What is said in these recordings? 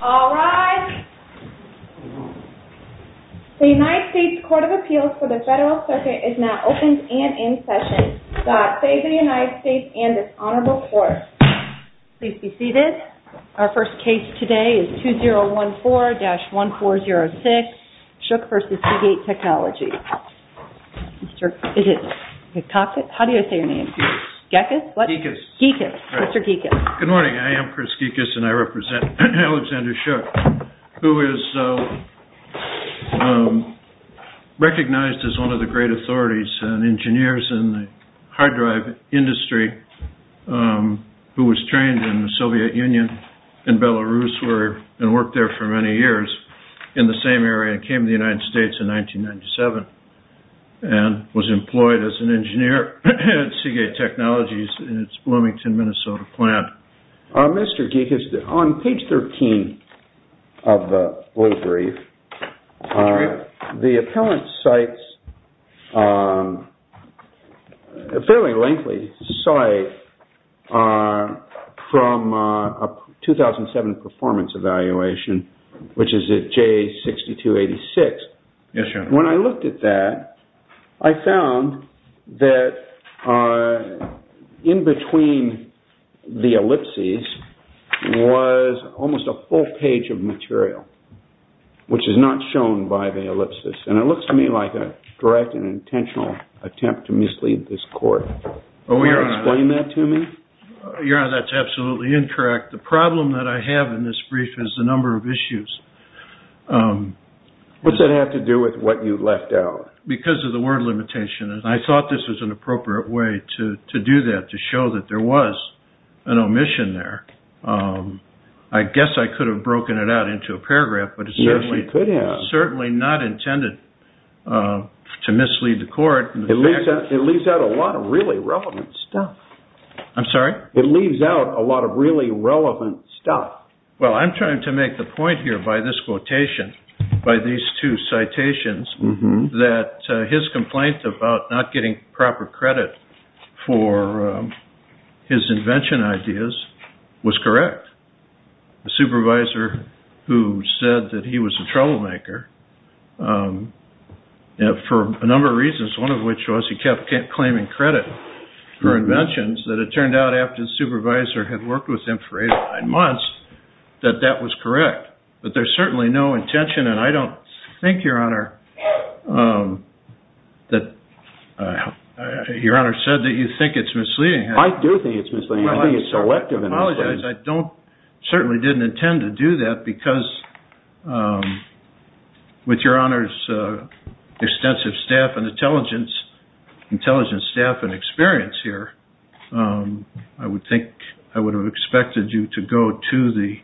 All rise. The United States Court of Appeals for the Federal Circuit is now open and in session. God save the United States and its honorable court. Please be seated. Our first case today is 2014-1406, Shukh v. Seagate Technology. Mr. Geckus. Good morning. I am Chris Geckus and I represent Alexander Shukh who is recognized as one of the great authorities and engineers in the hard drive industry who was trained in the Soviet Union and Belarus and worked there for many years in the same area and the United States in 1997 and was employed as an engineer at Seagate Technologies in its Bloomington, Minnesota plant. Mr. Geckus, on page 13 of the brief, the appellant cites a fairly lengthy site from a 2007 performance evaluation which is at J6286. When I looked at that, I found that in between the ellipses was almost a full page of material which is not shown by the ellipses and it looks to me like a direct and intentional attempt to mislead this court. Can you explain that to me? Your Honor, that's absolutely incorrect. The problem that I have in this brief is the number of issues. What's that have to do with what you left out? Because of the word limitation and I thought this was an appropriate way to do that to show that there was an omission there. I guess I could have broken it out into a paragraph but it's certainly not intended to mislead the court. It leaves out a lot of really relevant stuff. I'm sorry? It leaves out a lot of really relevant stuff. Well, I'm trying to make the point here by this quotation, by these two citations, that his complaint about not getting that he was a troublemaker, for a number of reasons, one of which was he kept claiming credit for inventions, that it turned out after the supervisor had worked with him for eight or nine months that that was correct. But there's certainly no intention and I don't think, Your Honor, that you think it's misleading. I do think it's misleading. I think it's selective. I apologize. I certainly didn't intend to do that because with Your Honor's extensive staff and intelligence, intelligence staff and experience here, I would think I would have expected you to go to the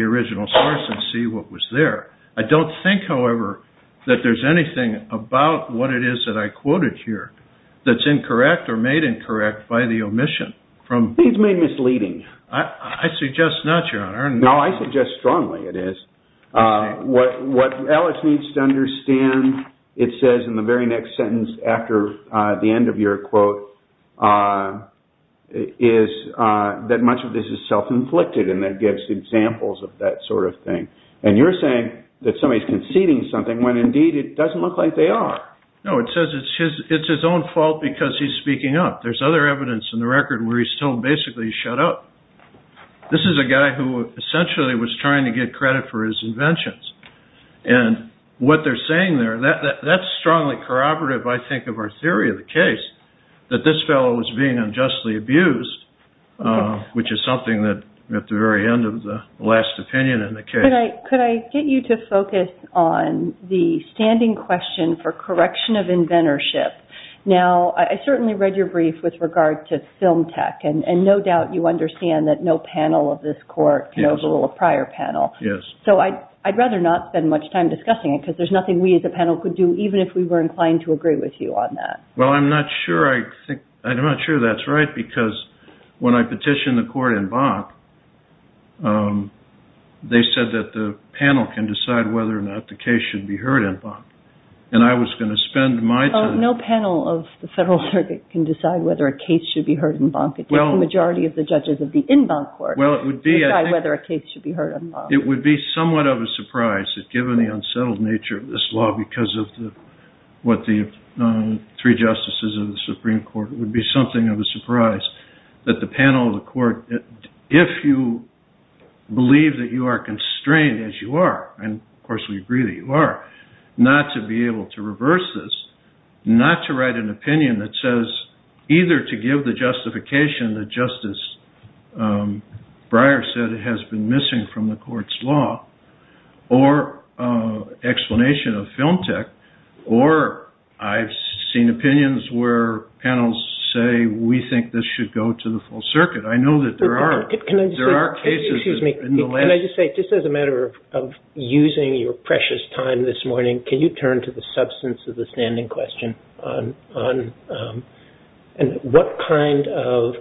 original source and see what was there. I don't think, however, that there's anything about what it is that I quoted here that's incorrect or made incorrect by the omission. It's made misleading. I suggest not, Your Honor. No, I suggest strongly it is. What Alex needs to understand, it says in the very next sentence after the end of your quote, is that much of this is self-inflicted and that gives examples of that sort of thing. And you're saying that somebody's conceding something when indeed it doesn't look like they are. No, it says it's his own fault because he's speaking up. There's other evidence in the record where he's still basically shut up. This is a guy who essentially was trying to get credit for his inventions. And what they're saying there, that's strongly corroborative, I think, of our theory of the case, that this fellow was being unjustly abused, which is something that at the very end of the last opinion in the case. Could I get you to focus on the standing question for correction of inventorship? Now, I certainly read your brief with regard to film tech, and no doubt you understand that no panel of this court can overrule a prior panel. So I'd rather not spend much time discussing it because there's nothing we as a panel could do, even if we were inclined to agree with you on that. I'm not sure that's right because when I petitioned the court in Bank, they said that the panel can decide whether or not the case should be heard in Bank. And I was going to spend my time... No panel of the federal circuit can decide whether a case should be heard in Bank. It takes the majority of the judges of the in-bank court to decide whether a case should be heard. It would be somewhat of a surprise, given the unsettled nature of this law, because of what the three justices of the Supreme Court... It would be something of a surprise that the panel of the court, if you believe that you are constrained as you are, and of course we agree that you are, not to be able to reverse this, not to write an opinion that says either to give the justification that Justice Breyer said it has been missing from the court's law, or explanation of film tech, or I've seen opinions where panels say we think this should go to the full circuit. I know that there are cases in the last... Can I just say, just as a matter of using your precious time this morning, can you turn to the substance of the standing question on what kind of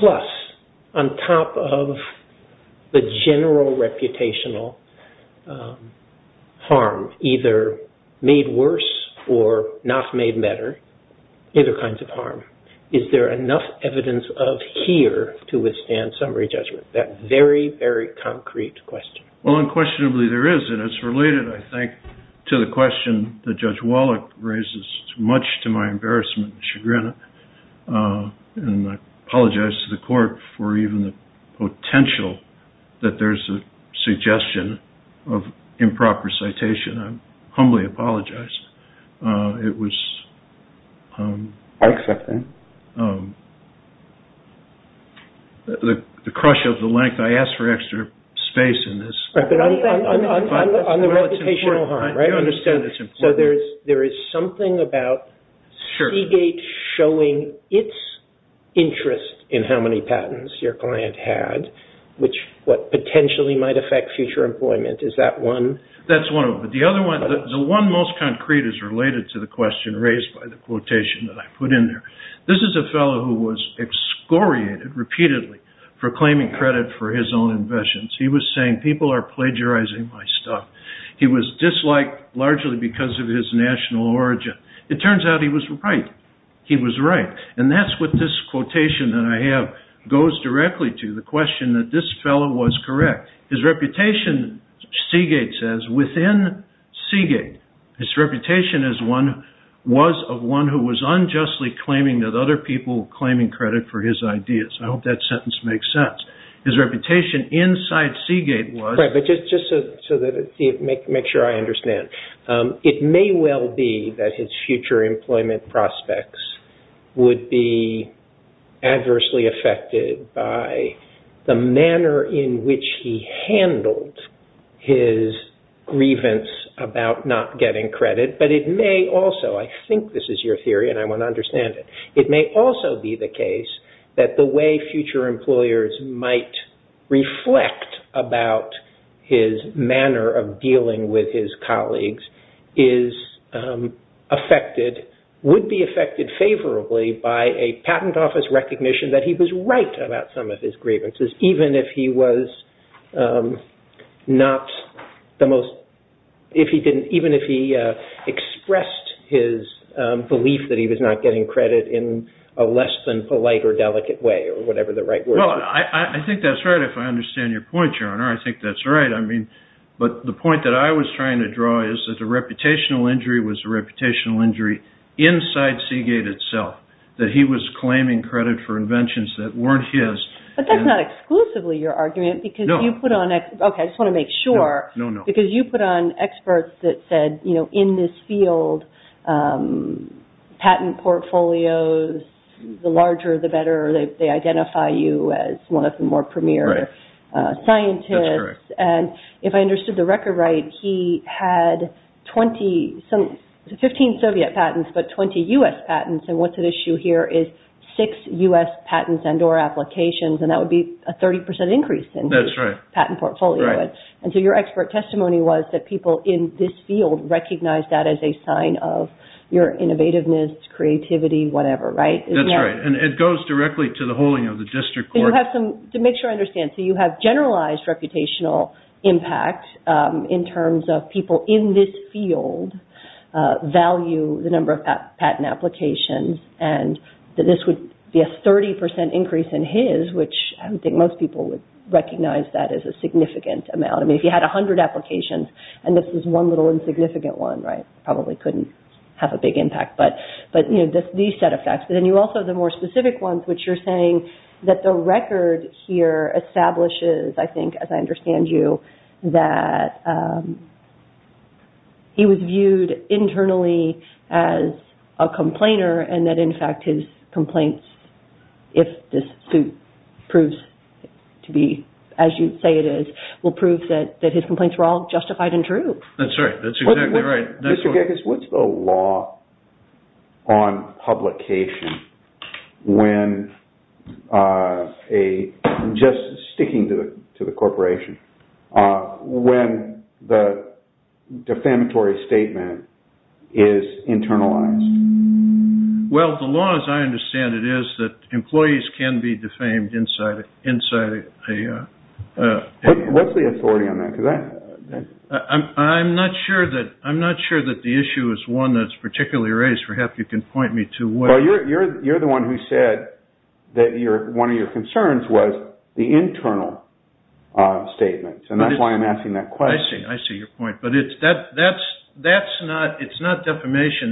plus on top of the general reputational harm, either made worse or not made better, either kinds of harm, is there enough evidence of here to withstand summary judgment? That very, very concrete question. Well, unquestionably there is, and it's related, I think, to the question that Judge Wallach raises, much to my embarrassment and chagrin, and I apologize to the court for even the potential that there's a suggestion of improper citation. I humbly apologize. It was... But on the reputational harm, right? So there is something about Seagate showing its interest in how many patents your client had, which potentially might affect future employment, is that one? That's one of them, but the other one, the one most concrete is related to the question raised by the quotation that I put in there. This is a fellow who was excoriated repeatedly for claiming credit for his own inventions. He was saying, people are plagiarizing my stuff. He was disliked largely because of his national origin. It turns out he was right. He was right, and that's what this quotation that I have goes directly to, the question that this fellow was correct. His reputation, Seagate says, within Seagate, his reputation was of one who was I hope that sentence makes sense. His reputation inside Seagate was... Right, but just to make sure I understand, it may well be that his future employment prospects would be adversely affected by the manner in which he handled his grievance about not getting credit, but it may also, I think this is your theory and I want to understand it, it may also be the case that the way future employers might reflect about his manner of dealing with his colleagues would be affected favorably by a patent office recognition that he was right about some of his grievances, even if he expressed his belief that he was not getting credit in a less than polite or delicate way or whatever the right word is. Well, I think that's right if I understand your point, Your Honor. I think that's right, but the point that I was trying to draw is that the reputational injury was a reputational injury inside Seagate itself, that he was claiming credit for inventions that weren't his. But that's not exclusively your argument because you put on, okay, I just want to make sure, because you put on experts that said in this field, patent portfolios, the larger the better, they identify you as one of the more premier scientists. And if I understood the record right, he had 15 Soviet patents, but 20 U.S. patents, and what's at issue here is six U.S. patents and or applications, and that would be a 30% increase in his patent portfolio. And so your expert testimony was that people in this field recognize that as a sign of your innovativeness, creativity, whatever, right? That's right, and it goes directly to the holding of the district court. You have some, to make sure I understand, so you have generalized reputational impact in terms of people in this field value the number of patent applications, and this would be a 30% increase in his, which I don't think most people would recognize that as a significant amount. I mean, if you had 100 applications, and this is one little insignificant one, right, probably couldn't have a big impact, but these set of facts. But then you also have the more specific ones, which you're saying that the record here establishes, I think, as I understand you, that he was viewed internally as a complainer and that, in fact, his complaints, if this suit proves to be as you say it is, will prove that his complaints were all justified and true. That's right, that's exactly right. Mr. Giggis, what's the law on publication when a, just sticking to the corporation, when the defamatory statement is internalized? Well, the law, as I understand it, is that employees can be defamed inside a- What's the authority on that? I'm not sure that the issue is one that's particularly raised. Perhaps you can point me to- Well, you're the one who said that one of your concerns was the internal statement, and that's why I'm asking that question. I see your point, but it's not defamation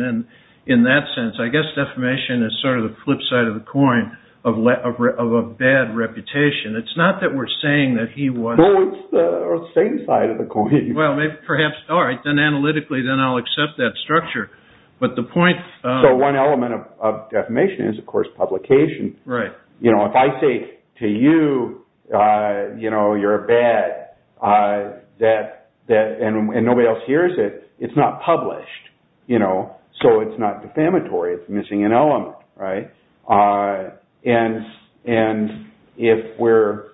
in that sense. I guess defamation is sort of the flip side of the coin of a bad reputation. It's not that we're saying that he was- No, it's the same side of the coin. Well, perhaps, all right, then analytically then I'll accept that structure, but the point- So one element of defamation is, of course, publication. If I say to you, you're a bad, and nobody else hears it, it's not published, so it's not defamatory. It's missing an element. If we're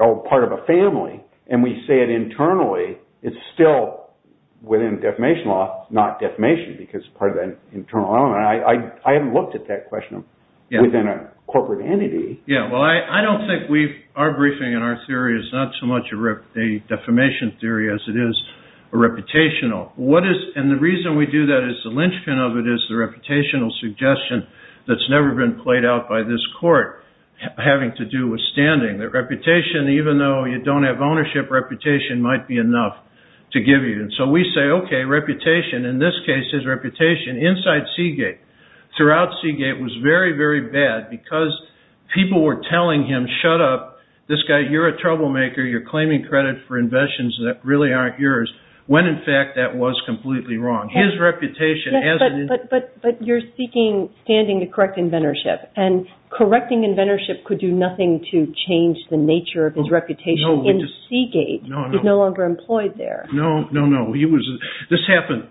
all part of a family, and we say it internally, it's still within defamation law, not defamation, because part of that internal element. I haven't looked at that question within a corporate entity. Yeah, well, I don't think our briefing and our theory is not so much a defamation theory as it is a reputational. The reason we do that is the linchpin of it is the reputational suggestion that's never been played out by this court having to do with standing. The reputation, even though you don't have ownership, reputation might be enough to give you. We say, okay, reputation, in this case, his reputation inside Seagate, throughout Seagate, was very, very bad because people were telling him, shut up, this guy, you're a troublemaker, you're claiming credit for investments that really aren't yours, when in fact that was completely wrong. His reputation as an- But you're seeking standing to correct inventorship, and correcting inventorship could do nothing to change the nature of his reputation in Seagate. He's no longer employed there. No, no, no. This happened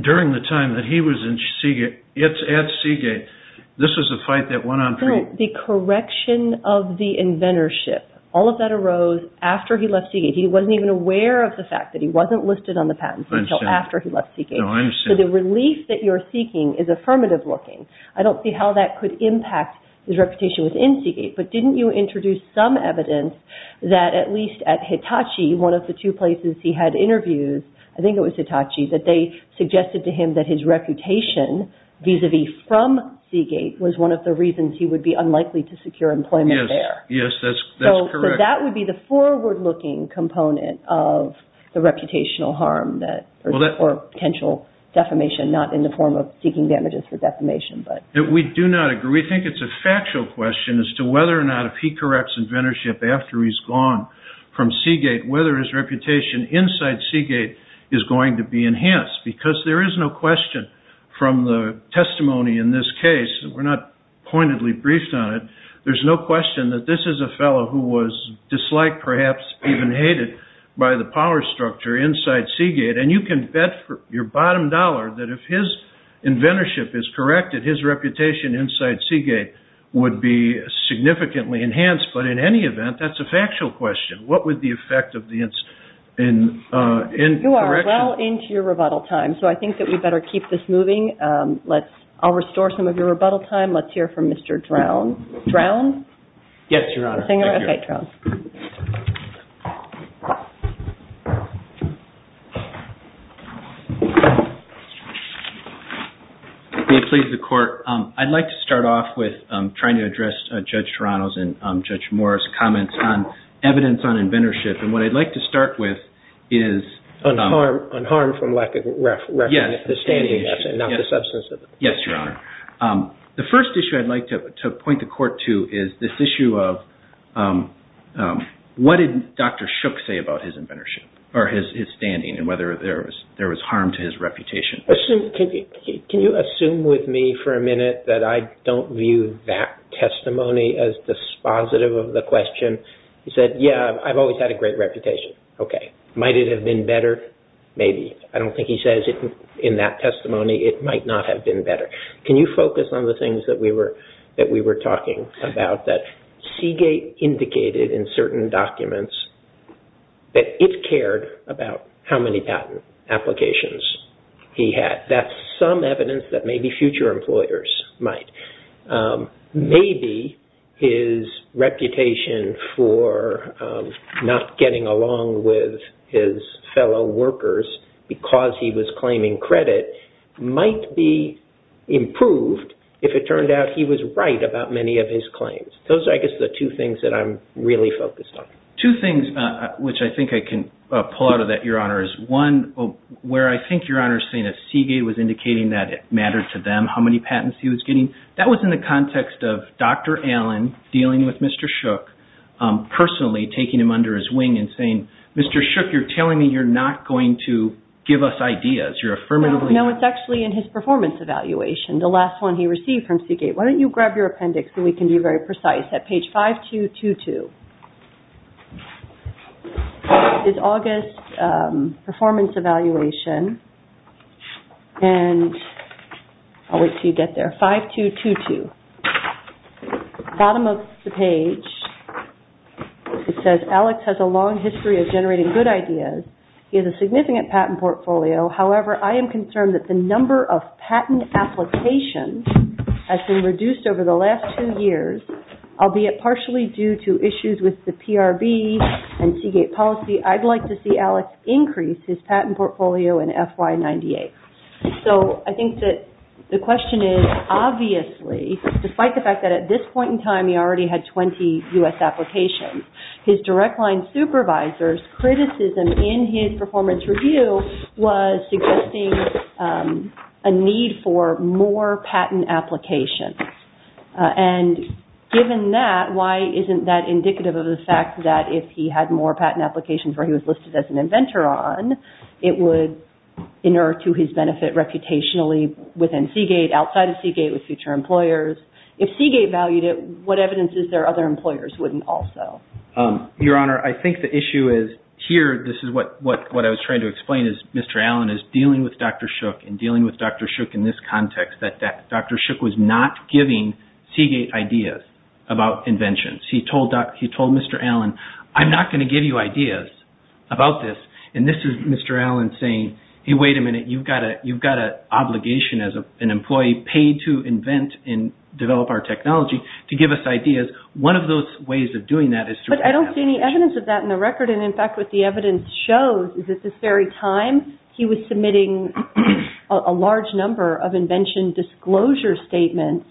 during the time that he was at Seagate. This was a fight that went on- The correction of the inventorship, all of that arose after he left Seagate. He wasn't even aware of the fact that he wasn't listed on the patents until after he left Seagate. So the relief that you're seeking is affirmative looking. I don't see how that could impact his reputation within Seagate, but didn't you introduce some evidence that at least at Hitachi, one of the two places he had interviews, I think it was Hitachi, that they suggested to him that his reputation vis-a-vis from Seagate was one of the reasons he would be unlikely to secure employment there. Yes, that's correct. So that would be the forward-looking component of the reputational harm or potential defamation, not in the form of seeking damages for defamation. We do not agree. We think it's a factual question as to whether or not if he corrects inventorship after he's gone from Seagate, whether his reputation inside Seagate is going to be enhanced. Because there is no question from the testimony in this case, we're not pointedly briefed on it, there's no question that this is a fellow who was disliked, perhaps even hated, by the power structure inside Seagate. And you can bet your bottom dollar that if his reputation inside Seagate would be significantly enhanced, but in any event, that's a factual question. What would the effect of the... You are well into your rebuttal time, so I think that we better keep this moving. I'll restore some of your rebuttal time. Let's hear from Mr. Drown. Drown? Yes, Your Honor. May it please the court. I'd like to start off with trying to address Judge Toronto's and Judge Morris' comments on evidence on inventorship. And what I'd like to start with is... On harm from lack of reference. Yes, Your Honor. The first issue I'd like to point the court to is this issue of what did Dr. Shook say about his inventorship or his standing and whether there was harm to his reputation? Can you assume with me for a minute that I don't view that testimony as dispositive of the question? He said, yeah, I've always had a great reputation. Okay. Might it have been better? Maybe. I don't think he says in that testimony it might not have been better. Can you focus on the things that we were talking about that Seagate indicated in certain documents that it cared about how many patent applications he had? That's some evidence that maybe future employers might. Maybe his reputation for not getting along with his fellow workers because he was claiming credit might be improved if it turned out he was right about many of his claims. Those are, I guess, the two things that I'm really focused on. Two things which I think I can pull out of that, Your Honor, is one where I think Your Honor is saying that Seagate was indicating that it mattered to them how many patents he was getting. That was in the context of Dr. Allen dealing with Mr. Shook, personally taking him under his wing and saying, Mr. Shook, you're telling me you're not going to give us ideas. You're affirmatively... No, it's actually in his performance evaluation. The last one he received from Seagate. Why don't you grab your appendix so we can be very precise at page 5222. It's August performance evaluation and I'll wait until you get there. 5222. The bottom of the page, it says, Alex has a long history of generating good ideas. He has a significant patent portfolio. However, I am concerned that the number of patent applications has been reduced over the last two years, albeit partially due to issues with the PRB and Seagate policy. I'd like to see Alex increase his patent portfolio in FY98. I think that the question is, obviously, despite the fact that at this point in time he already had 20 U.S. applications, his direct line supervisor's criticism in his performance review was suggesting a need for more patent applications. Given that, why isn't that indicative of the fact that if he had more patent applications where he was listed as an inventor on, it would inert to his benefit reputationally within Seagate, outside of Seagate with future employers? If Seagate valued it, what evidence is there other employers wouldn't also? Your Honor, I think the issue is here, this is what I was trying to explain is Mr. Allen is dealing with Dr. Shook and dealing with Dr. Shook in this context that Dr. Shook was not giving Seagate ideas about inventions. He told Mr. Allen, I'm not going to give you ideas about this and this is Mr. Allen saying, hey, wait a minute, you've got an obligation as an employee paid to invent and develop our technology to give us ideas. One of those ways of doing that is through... I don't see any evidence of that in the record. In fact, what the evidence shows is at this very time, he was submitting a large number of invention disclosure statements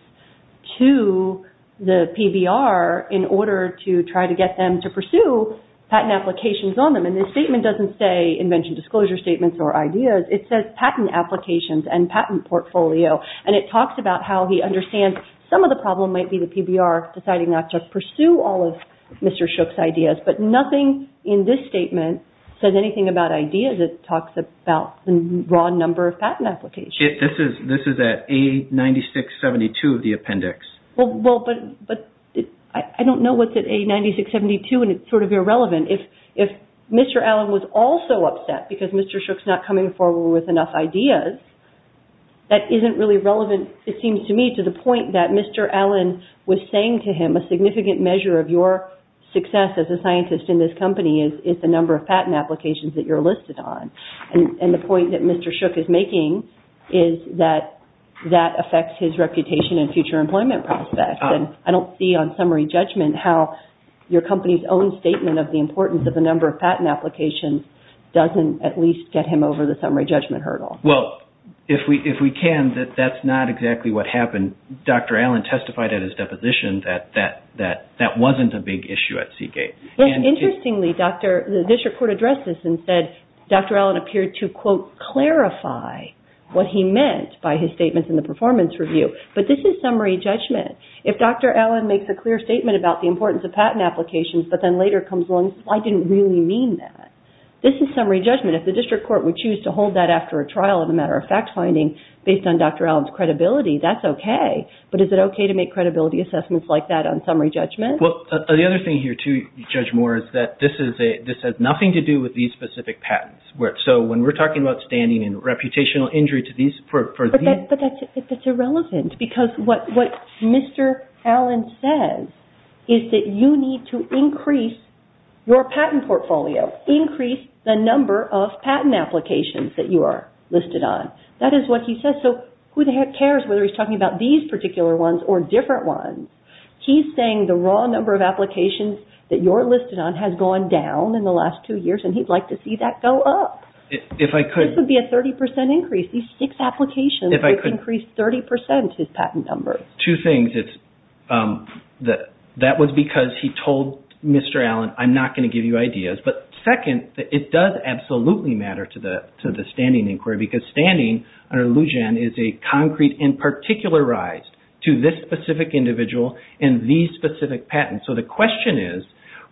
to the PBR in order to try to get them to pursue patent applications on them and this statement doesn't say invention disclosure statements or ideas. It says patent applications and patent portfolio and it talks about how he understands some of the problem might be the PBR deciding not to pursue all of Mr. Shook's ideas, but nothing in this statement says anything about ideas. It talks about the raw number of patent applications. This is at A-96-72 of the appendix. But I don't know what's at A-96-72 and it's sort of irrelevant. If Mr. Allen was also upset because Mr. Shook's not coming forward with enough ideas, that isn't really relevant, it seems to me, to the point that Mr. Allen was saying to him, a significant measure of your success as a scientist in this company is the number of patent applications that you're listed on. The point that Mr. Shook is making is that that affects his reputation and future employment prospects. I don't see on summary judgment how your company's own statement of the importance of the number of patent applications doesn't at least get him over the summary judgment hurdle. Well, if we can, that's not exactly what happened. Dr. Allen testified at his deposition that that wasn't a big issue at what he meant by his statements in the performance review, but this is summary judgment. If Dr. Allen makes a clear statement about the importance of patent applications but then later comes along, I didn't really mean that. This is summary judgment. If the district court would choose to hold that after a trial as a matter of fact finding based on Dr. Allen's credibility, that's okay. But is it okay to make credibility assessments like that on summary judgment? Well, the other thing here too, Judge Moore, is that this has nothing to do with these specific injuries. But that's irrelevant because what Mr. Allen says is that you need to increase your patent portfolio, increase the number of patent applications that you are listed on. That is what he says. So who the heck cares whether he's talking about these particular ones or different ones? He's saying the raw number of applications that you're listed on has gone down in the last two years and he'd like to see that go up. This would be a 30% increase. These six applications would increase 30% his patent numbers. Two things. That was because he told Mr. Allen, I'm not going to give you ideas. But second, it does absolutely matter to the standing inquiry because standing under Lujan is a concrete and particularized to this specific individual and these specific patents. So the question is,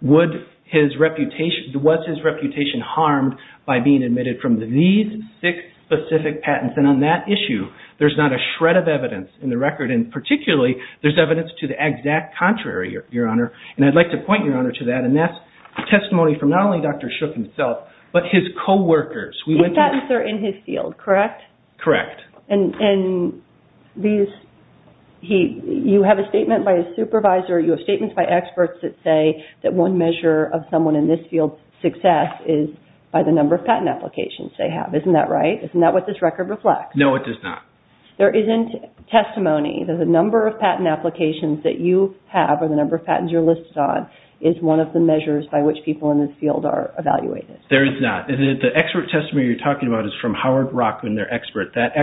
was his reputation harmed by being admitted from these six specific patents? And on that issue, there's not a shred of evidence in the record. And particularly, there's evidence to the exact contrary, Your Honor. And I'd like to point, Your Honor, to that. And that's testimony from not only Dr. Shook himself, but his co-workers. His patents are in his field, correct? Correct. And you have a statement by a supervisor. You have statements by experts that say that one measure of someone in this field's success is by the number of patent applications they have. Isn't that right? Isn't that what this record reflects? No, it does not. There isn't testimony. The number of patent applications that you have or the number of patents you're listed on is one of the measures by which people in this field are evaluated. There is not. The expert testimony you're talking about is from Howard Rockman, their expert. That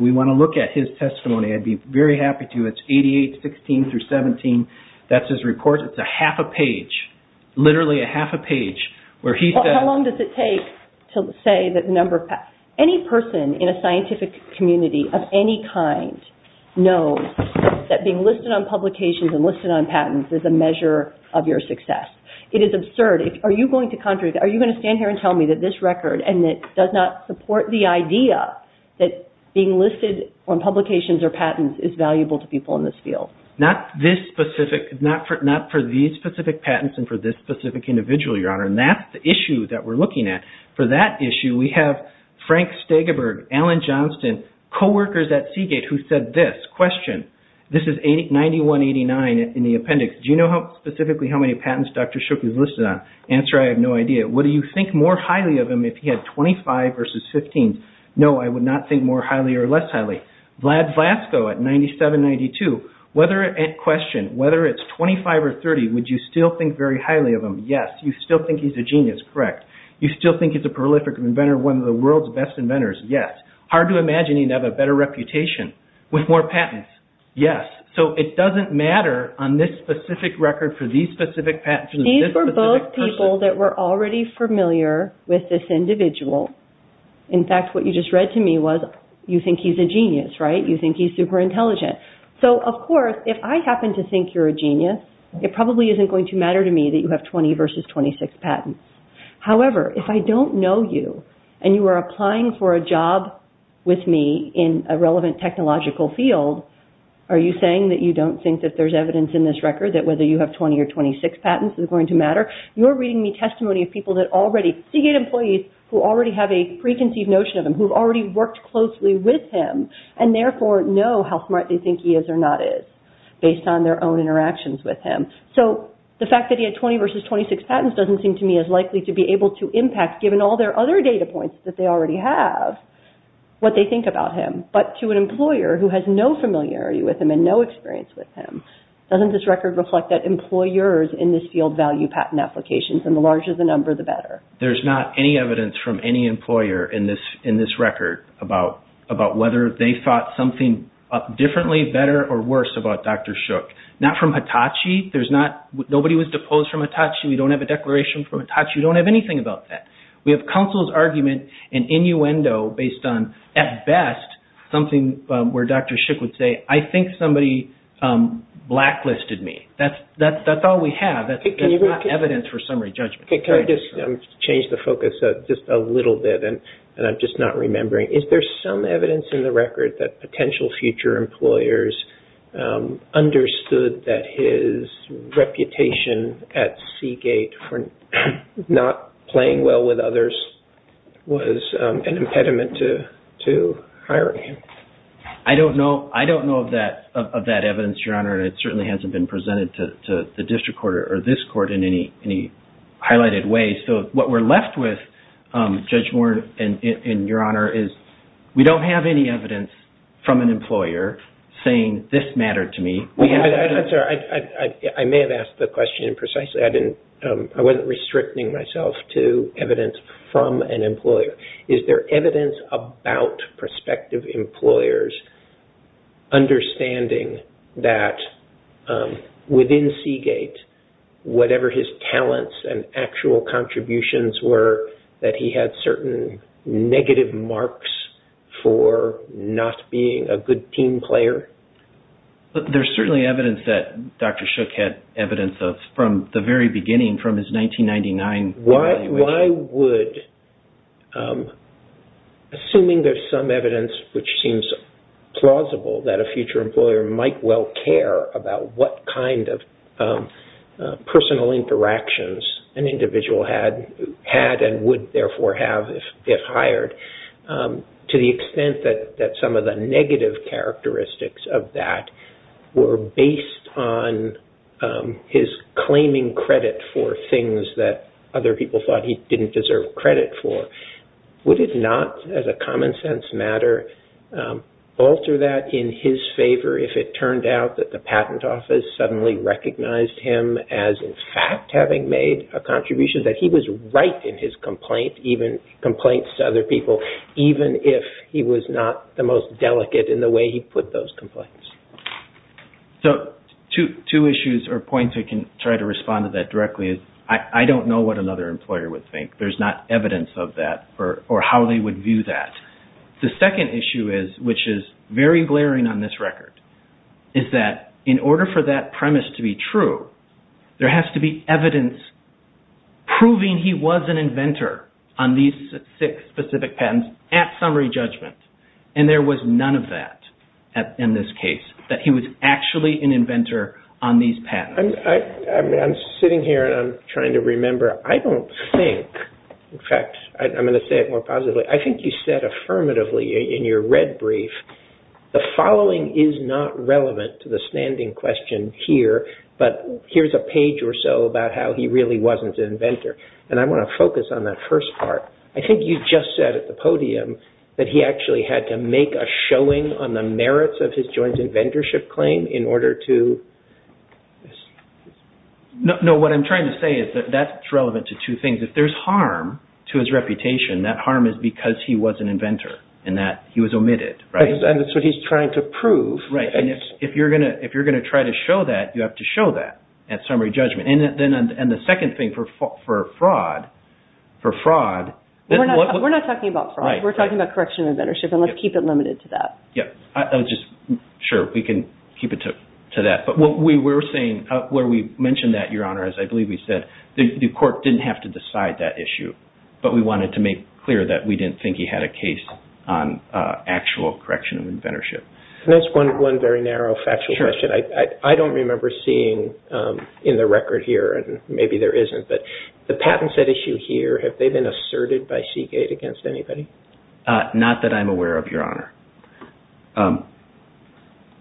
we want to look at his testimony. I'd be very happy to. It's 88-16-17. That's his report. It's a half a page, literally a half a page, where he said... How long does it take to say that the number of... Any person in a scientific community of any kind knows that being listed on publications and listed on patents is a measure of your success. It is absurd. Are you going to contradict? Are you going to stand here and tell me that this record and it does not support the idea that being listed on publications or patents is valuable to people in this field? Not for these specific patents and for this specific individual, Your Honor. That's the issue that we're looking at. For that issue, we have Frank Stegeberg, Alan Johnston, co-workers at Seagate who said this. Question. This is 91-89 in the appendix. Do you know specifically how many patents Dr. Shook was listed on? Answer, I have no idea. What do you think more highly of him if he had 25 versus 15? No, I would not think more highly or less highly. Vlad Vlasko at 97-92. Question. Whether it's 25 or 30, would you still think very highly of him? Yes. You still think he's a genius? Correct. You still think he's a prolific inventor, one of the world's best inventors? Yes. Hard to imagine he'd have a better reputation with more patents? Yes. So, it doesn't matter on this specific record for these specific patents... These were both people that were already familiar with this individual. In fact, what you just read to me was you think he's a genius, right? You think he's super intelligent. So, of course, if I happen to think you're a genius, it probably isn't going to matter to me that you have 20 versus 26 patents. However, if I don't know you and you are applying for a job with me in a relevant technological field, are you saying that you don't think that there's evidence in this record that 20 versus 26 patents is going to matter? You're reading me testimony of people that already... C-gate employees who already have a preconceived notion of him, who've already worked closely with him and therefore know how smart they think he is or not is based on their own interactions with him. So, the fact that he had 20 versus 26 patents doesn't seem to me as likely to be able to impact, given all their other data points that they already have, what they think about him. But to an employer who has no familiarity with him and no experience with him, doesn't this record reflect that employers in this field value patent applications and the larger the number, the better? There's not any evidence from any employer in this record about whether they thought something differently, better or worse about Dr. Shook. Not from Hitachi. Nobody was deposed from Hitachi. We don't have a declaration from Hitachi. We don't have anything about that. We have counsel's argument and innuendo based on, at best, something where Dr. Shook blacklisted me. That's all we have. That's not evidence for summary judgment. Can I just change the focus just a little bit and I'm just not remembering. Is there some evidence in the record that potential future employers understood that his reputation at C-gate for not playing well with others was an impediment to hiring him? I don't know. I don't know of that evidence, Your Honor. It certainly hasn't been presented to the district court or this court in any highlighted way. So what we're left with, Judge Warren and Your Honor, is we don't have any evidence from an employer saying this mattered to me. I'm sorry. I may have asked the question precisely. I wasn't restricting myself to prospective employers understanding that within C-gate, whatever his talents and actual contributions were, that he had certain negative marks for not being a good team player. There's certainly evidence that Dr. Shook had evidence of from the very beginning, from his 1999 evaluation. Assuming there's some evidence which seems plausible that a future employer might well care about what kind of personal interactions an individual had and would therefore have if hired, to the extent that some of the negative characteristics of that were based on his claiming credit for things that other people thought he didn't deserve credit for, would it not, as a common sense matter, alter that in his favor if it turned out that the patent office suddenly recognized him as in fact having made a contribution that he was right in his complaint, even complaints to other people, even if he was not the most So two issues or points I can try to respond to that directly is I don't know what another employer would think. There's not evidence of that or how they would view that. The second issue is, which is very glaring on this record, is that in order for that premise to be true, there has to be evidence proving he was an inventor on these six specific patents at summary judgment. And there was none of that in this case, that he was actually an inventor on these patents. I'm sitting here and I'm trying to remember. I don't think, in fact, I'm going to say it more positively. I think you said affirmatively in your red brief, the following is not relevant to the standing question here, but here's a page or so about how he really wasn't an I think you just said at the podium that he actually had to make a showing on the merits of his joint inventorship claim in order to... No, what I'm trying to say is that that's relevant to two things. If there's harm to his reputation, that harm is because he was an inventor and that he was omitted. And that's what he's trying to prove. Right. And if you're going to try to show that, you have to show that at summary judgment. And the second thing for fraud, for fraud... We're not talking about fraud. We're talking about correction of inventorship and let's keep it limited to that. Yeah. I was just sure we can keep it to that. But what we were saying where we mentioned that, Your Honor, as I believe we said, the court didn't have to decide that issue, but we wanted to make clear that we didn't think he had a case on actual correction of inventorship. I don't remember seeing in the record here, and maybe there isn't, but the patent set issue here, have they been asserted by Seagate against anybody? Not that I'm aware of, Your Honor.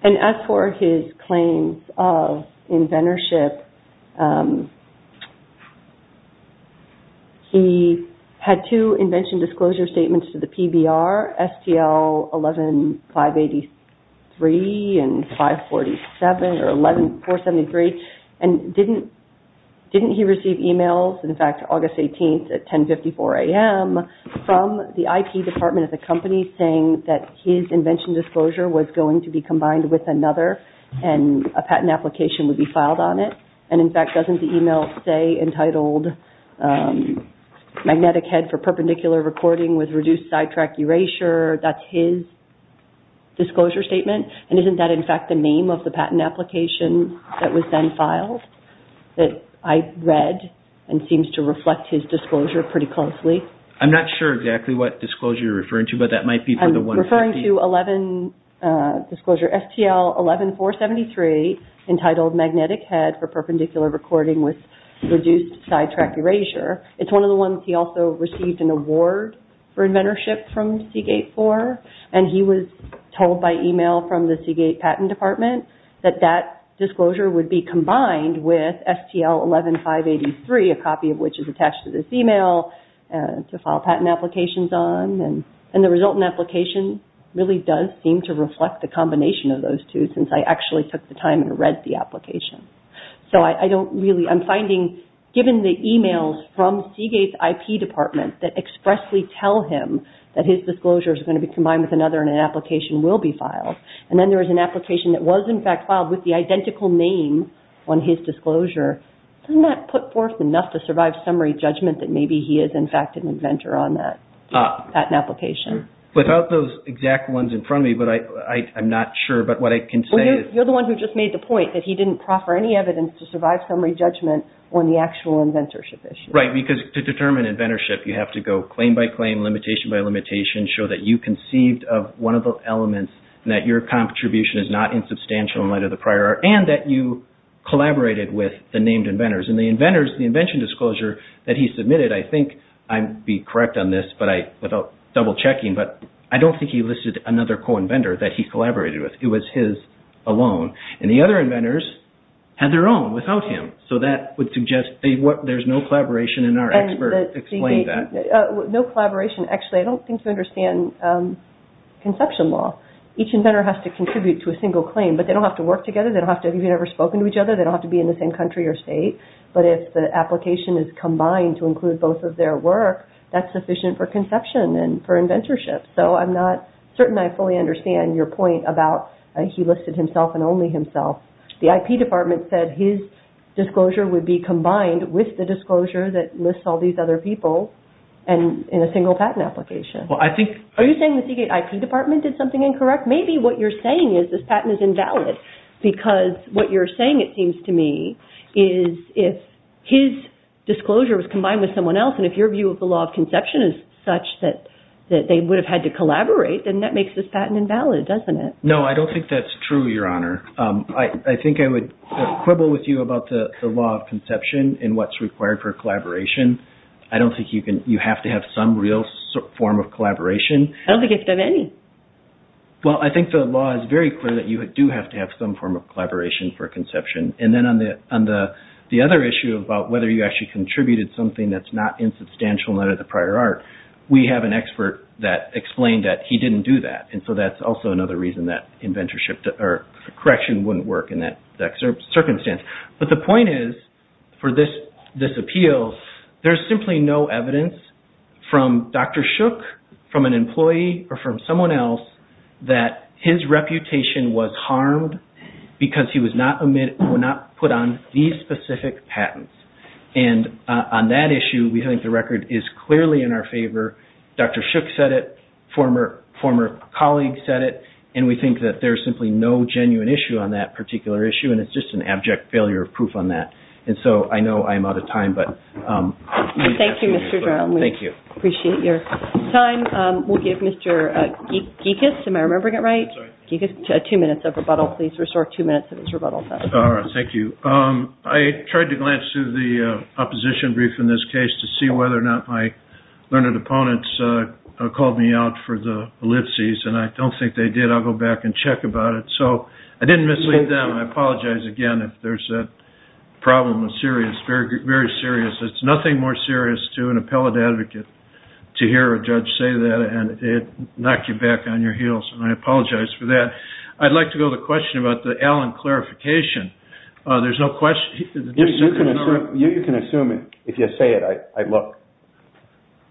And as for his claims of inventorship, he had two invention disclosure statements to the PBR, STL 11583 and 547 or 11473. And didn't he receive emails, in fact, August 18th at 1054 AM from the IP department of the company saying that his invention disclosure was going to be combined with another and a patent application would be filed on it? And in fact, doesn't the email say entitled Magnetic Head for Perpendicular Recording with Reduced Sidetrack Erasure, that's his disclosure statement? And isn't that, in fact, the name of the patent application that was then filed that I read and seems to reflect his disclosure pretty closely? I'm not sure exactly what disclosure you're referring to, but that Magnetic Head for Perpendicular Recording with Reduced Sidetrack Erasure, it's one of the ones he also received an award for inventorship from Seagate for, and he was told by email from the Seagate patent department that that disclosure would be combined with STL 11583, a copy of which is attached to this email to file patent applications on. And the resultant application really does seem to reflect the combination of those two, since I actually took the time and So I don't really, I'm finding, given the emails from Seagate's IP department that expressly tell him that his disclosure is going to be combined with another and an application will be filed, and then there is an application that was in fact filed with the identical name on his disclosure, doesn't that put forth enough to survive summary judgment that maybe he is, in fact, an inventor on that patent application? Without those exact ones in front of me, but I'm not sure, but what I can You're the one who just made the point that he didn't proffer any evidence to survive summary judgment on the actual inventorship issue. Right, because to determine inventorship, you have to go claim by claim, limitation by limitation, show that you conceived of one of the elements and that your contribution is not insubstantial in light of the prior art, and that you collaborated with the named inventors. And the inventors, the invention disclosure that he submitted, I think I'd be correct on this, but I, without double checking, but I don't think he that he collaborated with. It was his alone, and the other inventors had their own without him, so that would suggest there's no collaboration in our expert, explain that. No collaboration, actually, I don't think you understand conception law. Each inventor has to contribute to a single claim, but they don't have to work together, they don't have to have ever spoken to each other, they don't have to be in the same country or state, but if the application is combined to include both of their work, that's sufficient for conception and for inventorship, so I'm not fully understand your point about he listed himself and only himself. The IP department said his disclosure would be combined with the disclosure that lists all these other people in a single patent application. Are you saying the CKIP department did something incorrect? Maybe what you're saying is this patent is invalid, because what you're saying, it seems to me, is if his disclosure was combined with someone else, and if your view of the law of conception is such that they would have had to collaborate, then that makes this patent invalid, doesn't it? No, I don't think that's true, your honor. I think I would quibble with you about the law of conception and what's required for collaboration. I don't think you have to have some real form of collaboration. I don't think you have to have any. Well, I think the law is very clear that you do have to have some form of collaboration for conception, and then on the other issue about whether you actually contributed something that's insubstantial under the prior art, we have an expert that explained that he didn't do that, and so that's also another reason that inventorship or correction wouldn't work in that circumstance. But the point is, for this appeal, there's simply no evidence from Dr. Shook, from an employee, or from someone else that his reputation was harmed because he was not put on these specific patents. And on that issue, we think the record is clearly in our favor. Dr. Shook said it, former colleagues said it, and we think that there's simply no genuine issue on that particular issue, and it's just an abject failure of proof on that. And so, I know I'm out of time, but... Thank you, Mr. Drown. Thank you. We appreciate your time. We'll give Mr. Gikas, am I remembering it right? I'm sorry. Gikas, two minutes of rebuttal. Please restore two minutes of his rebuttal time. All right, thank you. I tried to glance through the opposition brief in this case to see whether or not my learned opponents called me out for the ellipses, and I don't think they did. I'll go back and check about it. So, I didn't mislead them. I apologize again if there's a problem with serious, very serious. It's nothing more serious to an appellate advocate to hear a judge say that, and it knocked you back on your heels, and I apologize for that. I'd like to go to the question about the Allen clarification. There's no question... You can assume it. If you say it, I look.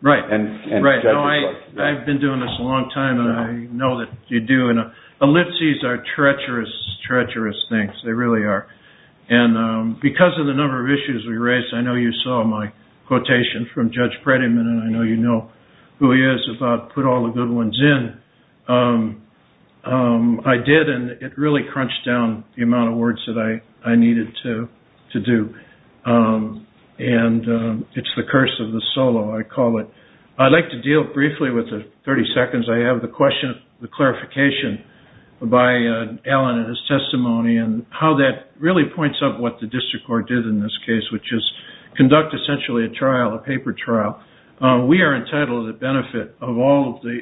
Right. I've been doing this a long time, and I know that you do, and ellipses are treacherous, treacherous things. They really are. And because of the number of issues we raised, I know you saw my quotation from Judge Prettiman, and I know you know who he is about put all the good ones in. I did, and it really crunched down the amount of words that I needed to do, and it's the curse of the solo, I call it. I'd like to deal briefly with the 30 seconds I have the question, the clarification by Allen and his testimony, and how that really points up what the district court did in this case, which is conduct essentially a trial, a paper trial. We are entitled to the benefit of all of the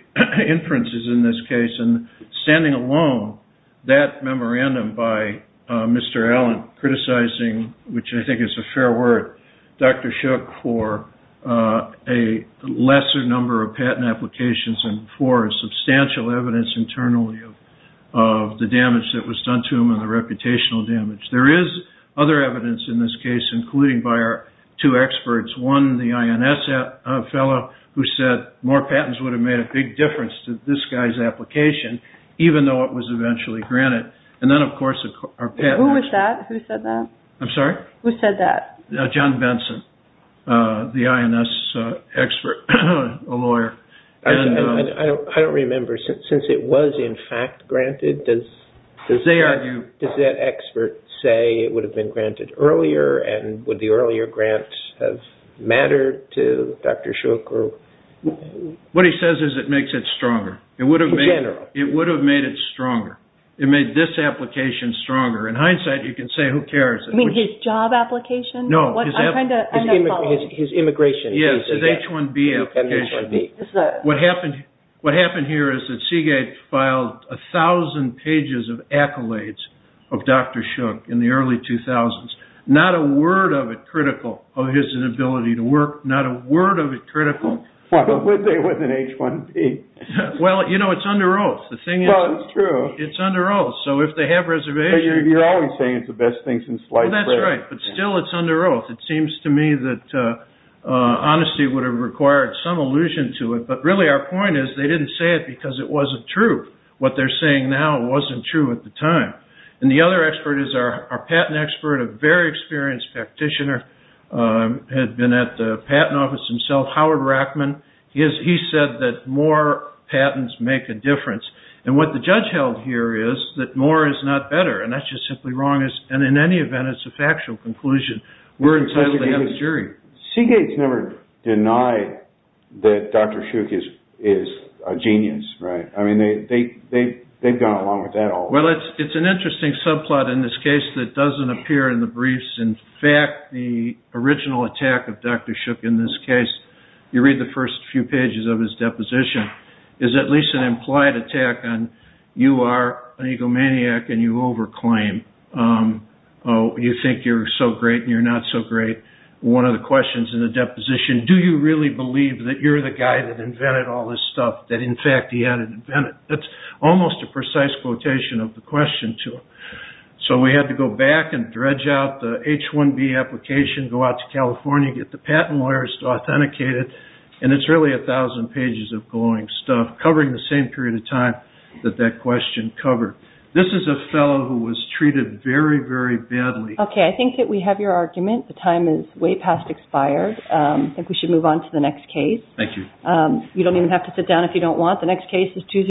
inferences in this case, and standing alone, that memorandum by Mr. Allen criticizing, which I think is a fair word, Dr. Shook for a lesser number of patent applications and for substantial evidence internally of the damage that was done to him and the reputational damage. There is other evidence in this case, including by our two more patents would have made a big difference to this guy's application, even though it was eventually granted. And then of course, our patent... Who was that? Who said that? I'm sorry? Who said that? John Benson, the INS expert, a lawyer. I don't remember, since it was in fact granted, does that expert say it would have been granted earlier, and would the earlier grants have mattered to Dr. Shook? What he says is it makes it stronger. In general. It would have made it stronger. It made this application stronger. In hindsight, you can say, who cares? You mean his job application? No, his immigration. Yes, his H-1B application. What happened here is that Seagate filed a thousand pages of accolades of Dr. Shook in the early 2000s, not a word of critical of his inability to work, not a word of it critical. But would they with an H-1B? Well, you know, it's under oath. Well, it's true. It's under oath. So if they have reservations... You're always saying it's the best thing since sliced bread. That's right. But still, it's under oath. It seems to me that honesty would have required some allusion to it. But really, our point is they didn't say it because it wasn't true. What they're saying now wasn't true at the time. And the other expert is our patent expert, a very experienced practitioner, had been at the patent office himself, Howard Rackman. He said that more patents make a difference. And what the judge held here is that more is not better. And that's just simply wrong. And in any event, it's a factual conclusion. We're entitled to have a jury. Seagate's never denied that Dr. Shook is a genius, right? I mean, they've gone along with it. Well, it's an interesting subplot in this case that doesn't appear in the briefs. In fact, the original attack of Dr. Shook in this case, you read the first few pages of his deposition, is at least an implied attack on you are an egomaniac and you over-claim. You think you're so great and you're not so great. One of the questions in the deposition, do you really believe that you're the guy that invented all this stuff that, in fact, he had invented? That's almost a precise quotation of the question to him. So we had to go back and dredge out the H-1B application, go out to California, get the patent lawyers to authenticate it. And it's really a thousand pages of glowing stuff covering the same period of time that that question covered. This is a fellow who was treated very, very badly. Okay. I think that we have your argument. The time is way past expired. I think we should move on to the next case. Thank you. You don't even have to sit down if you don't want. The next case is Tuesday.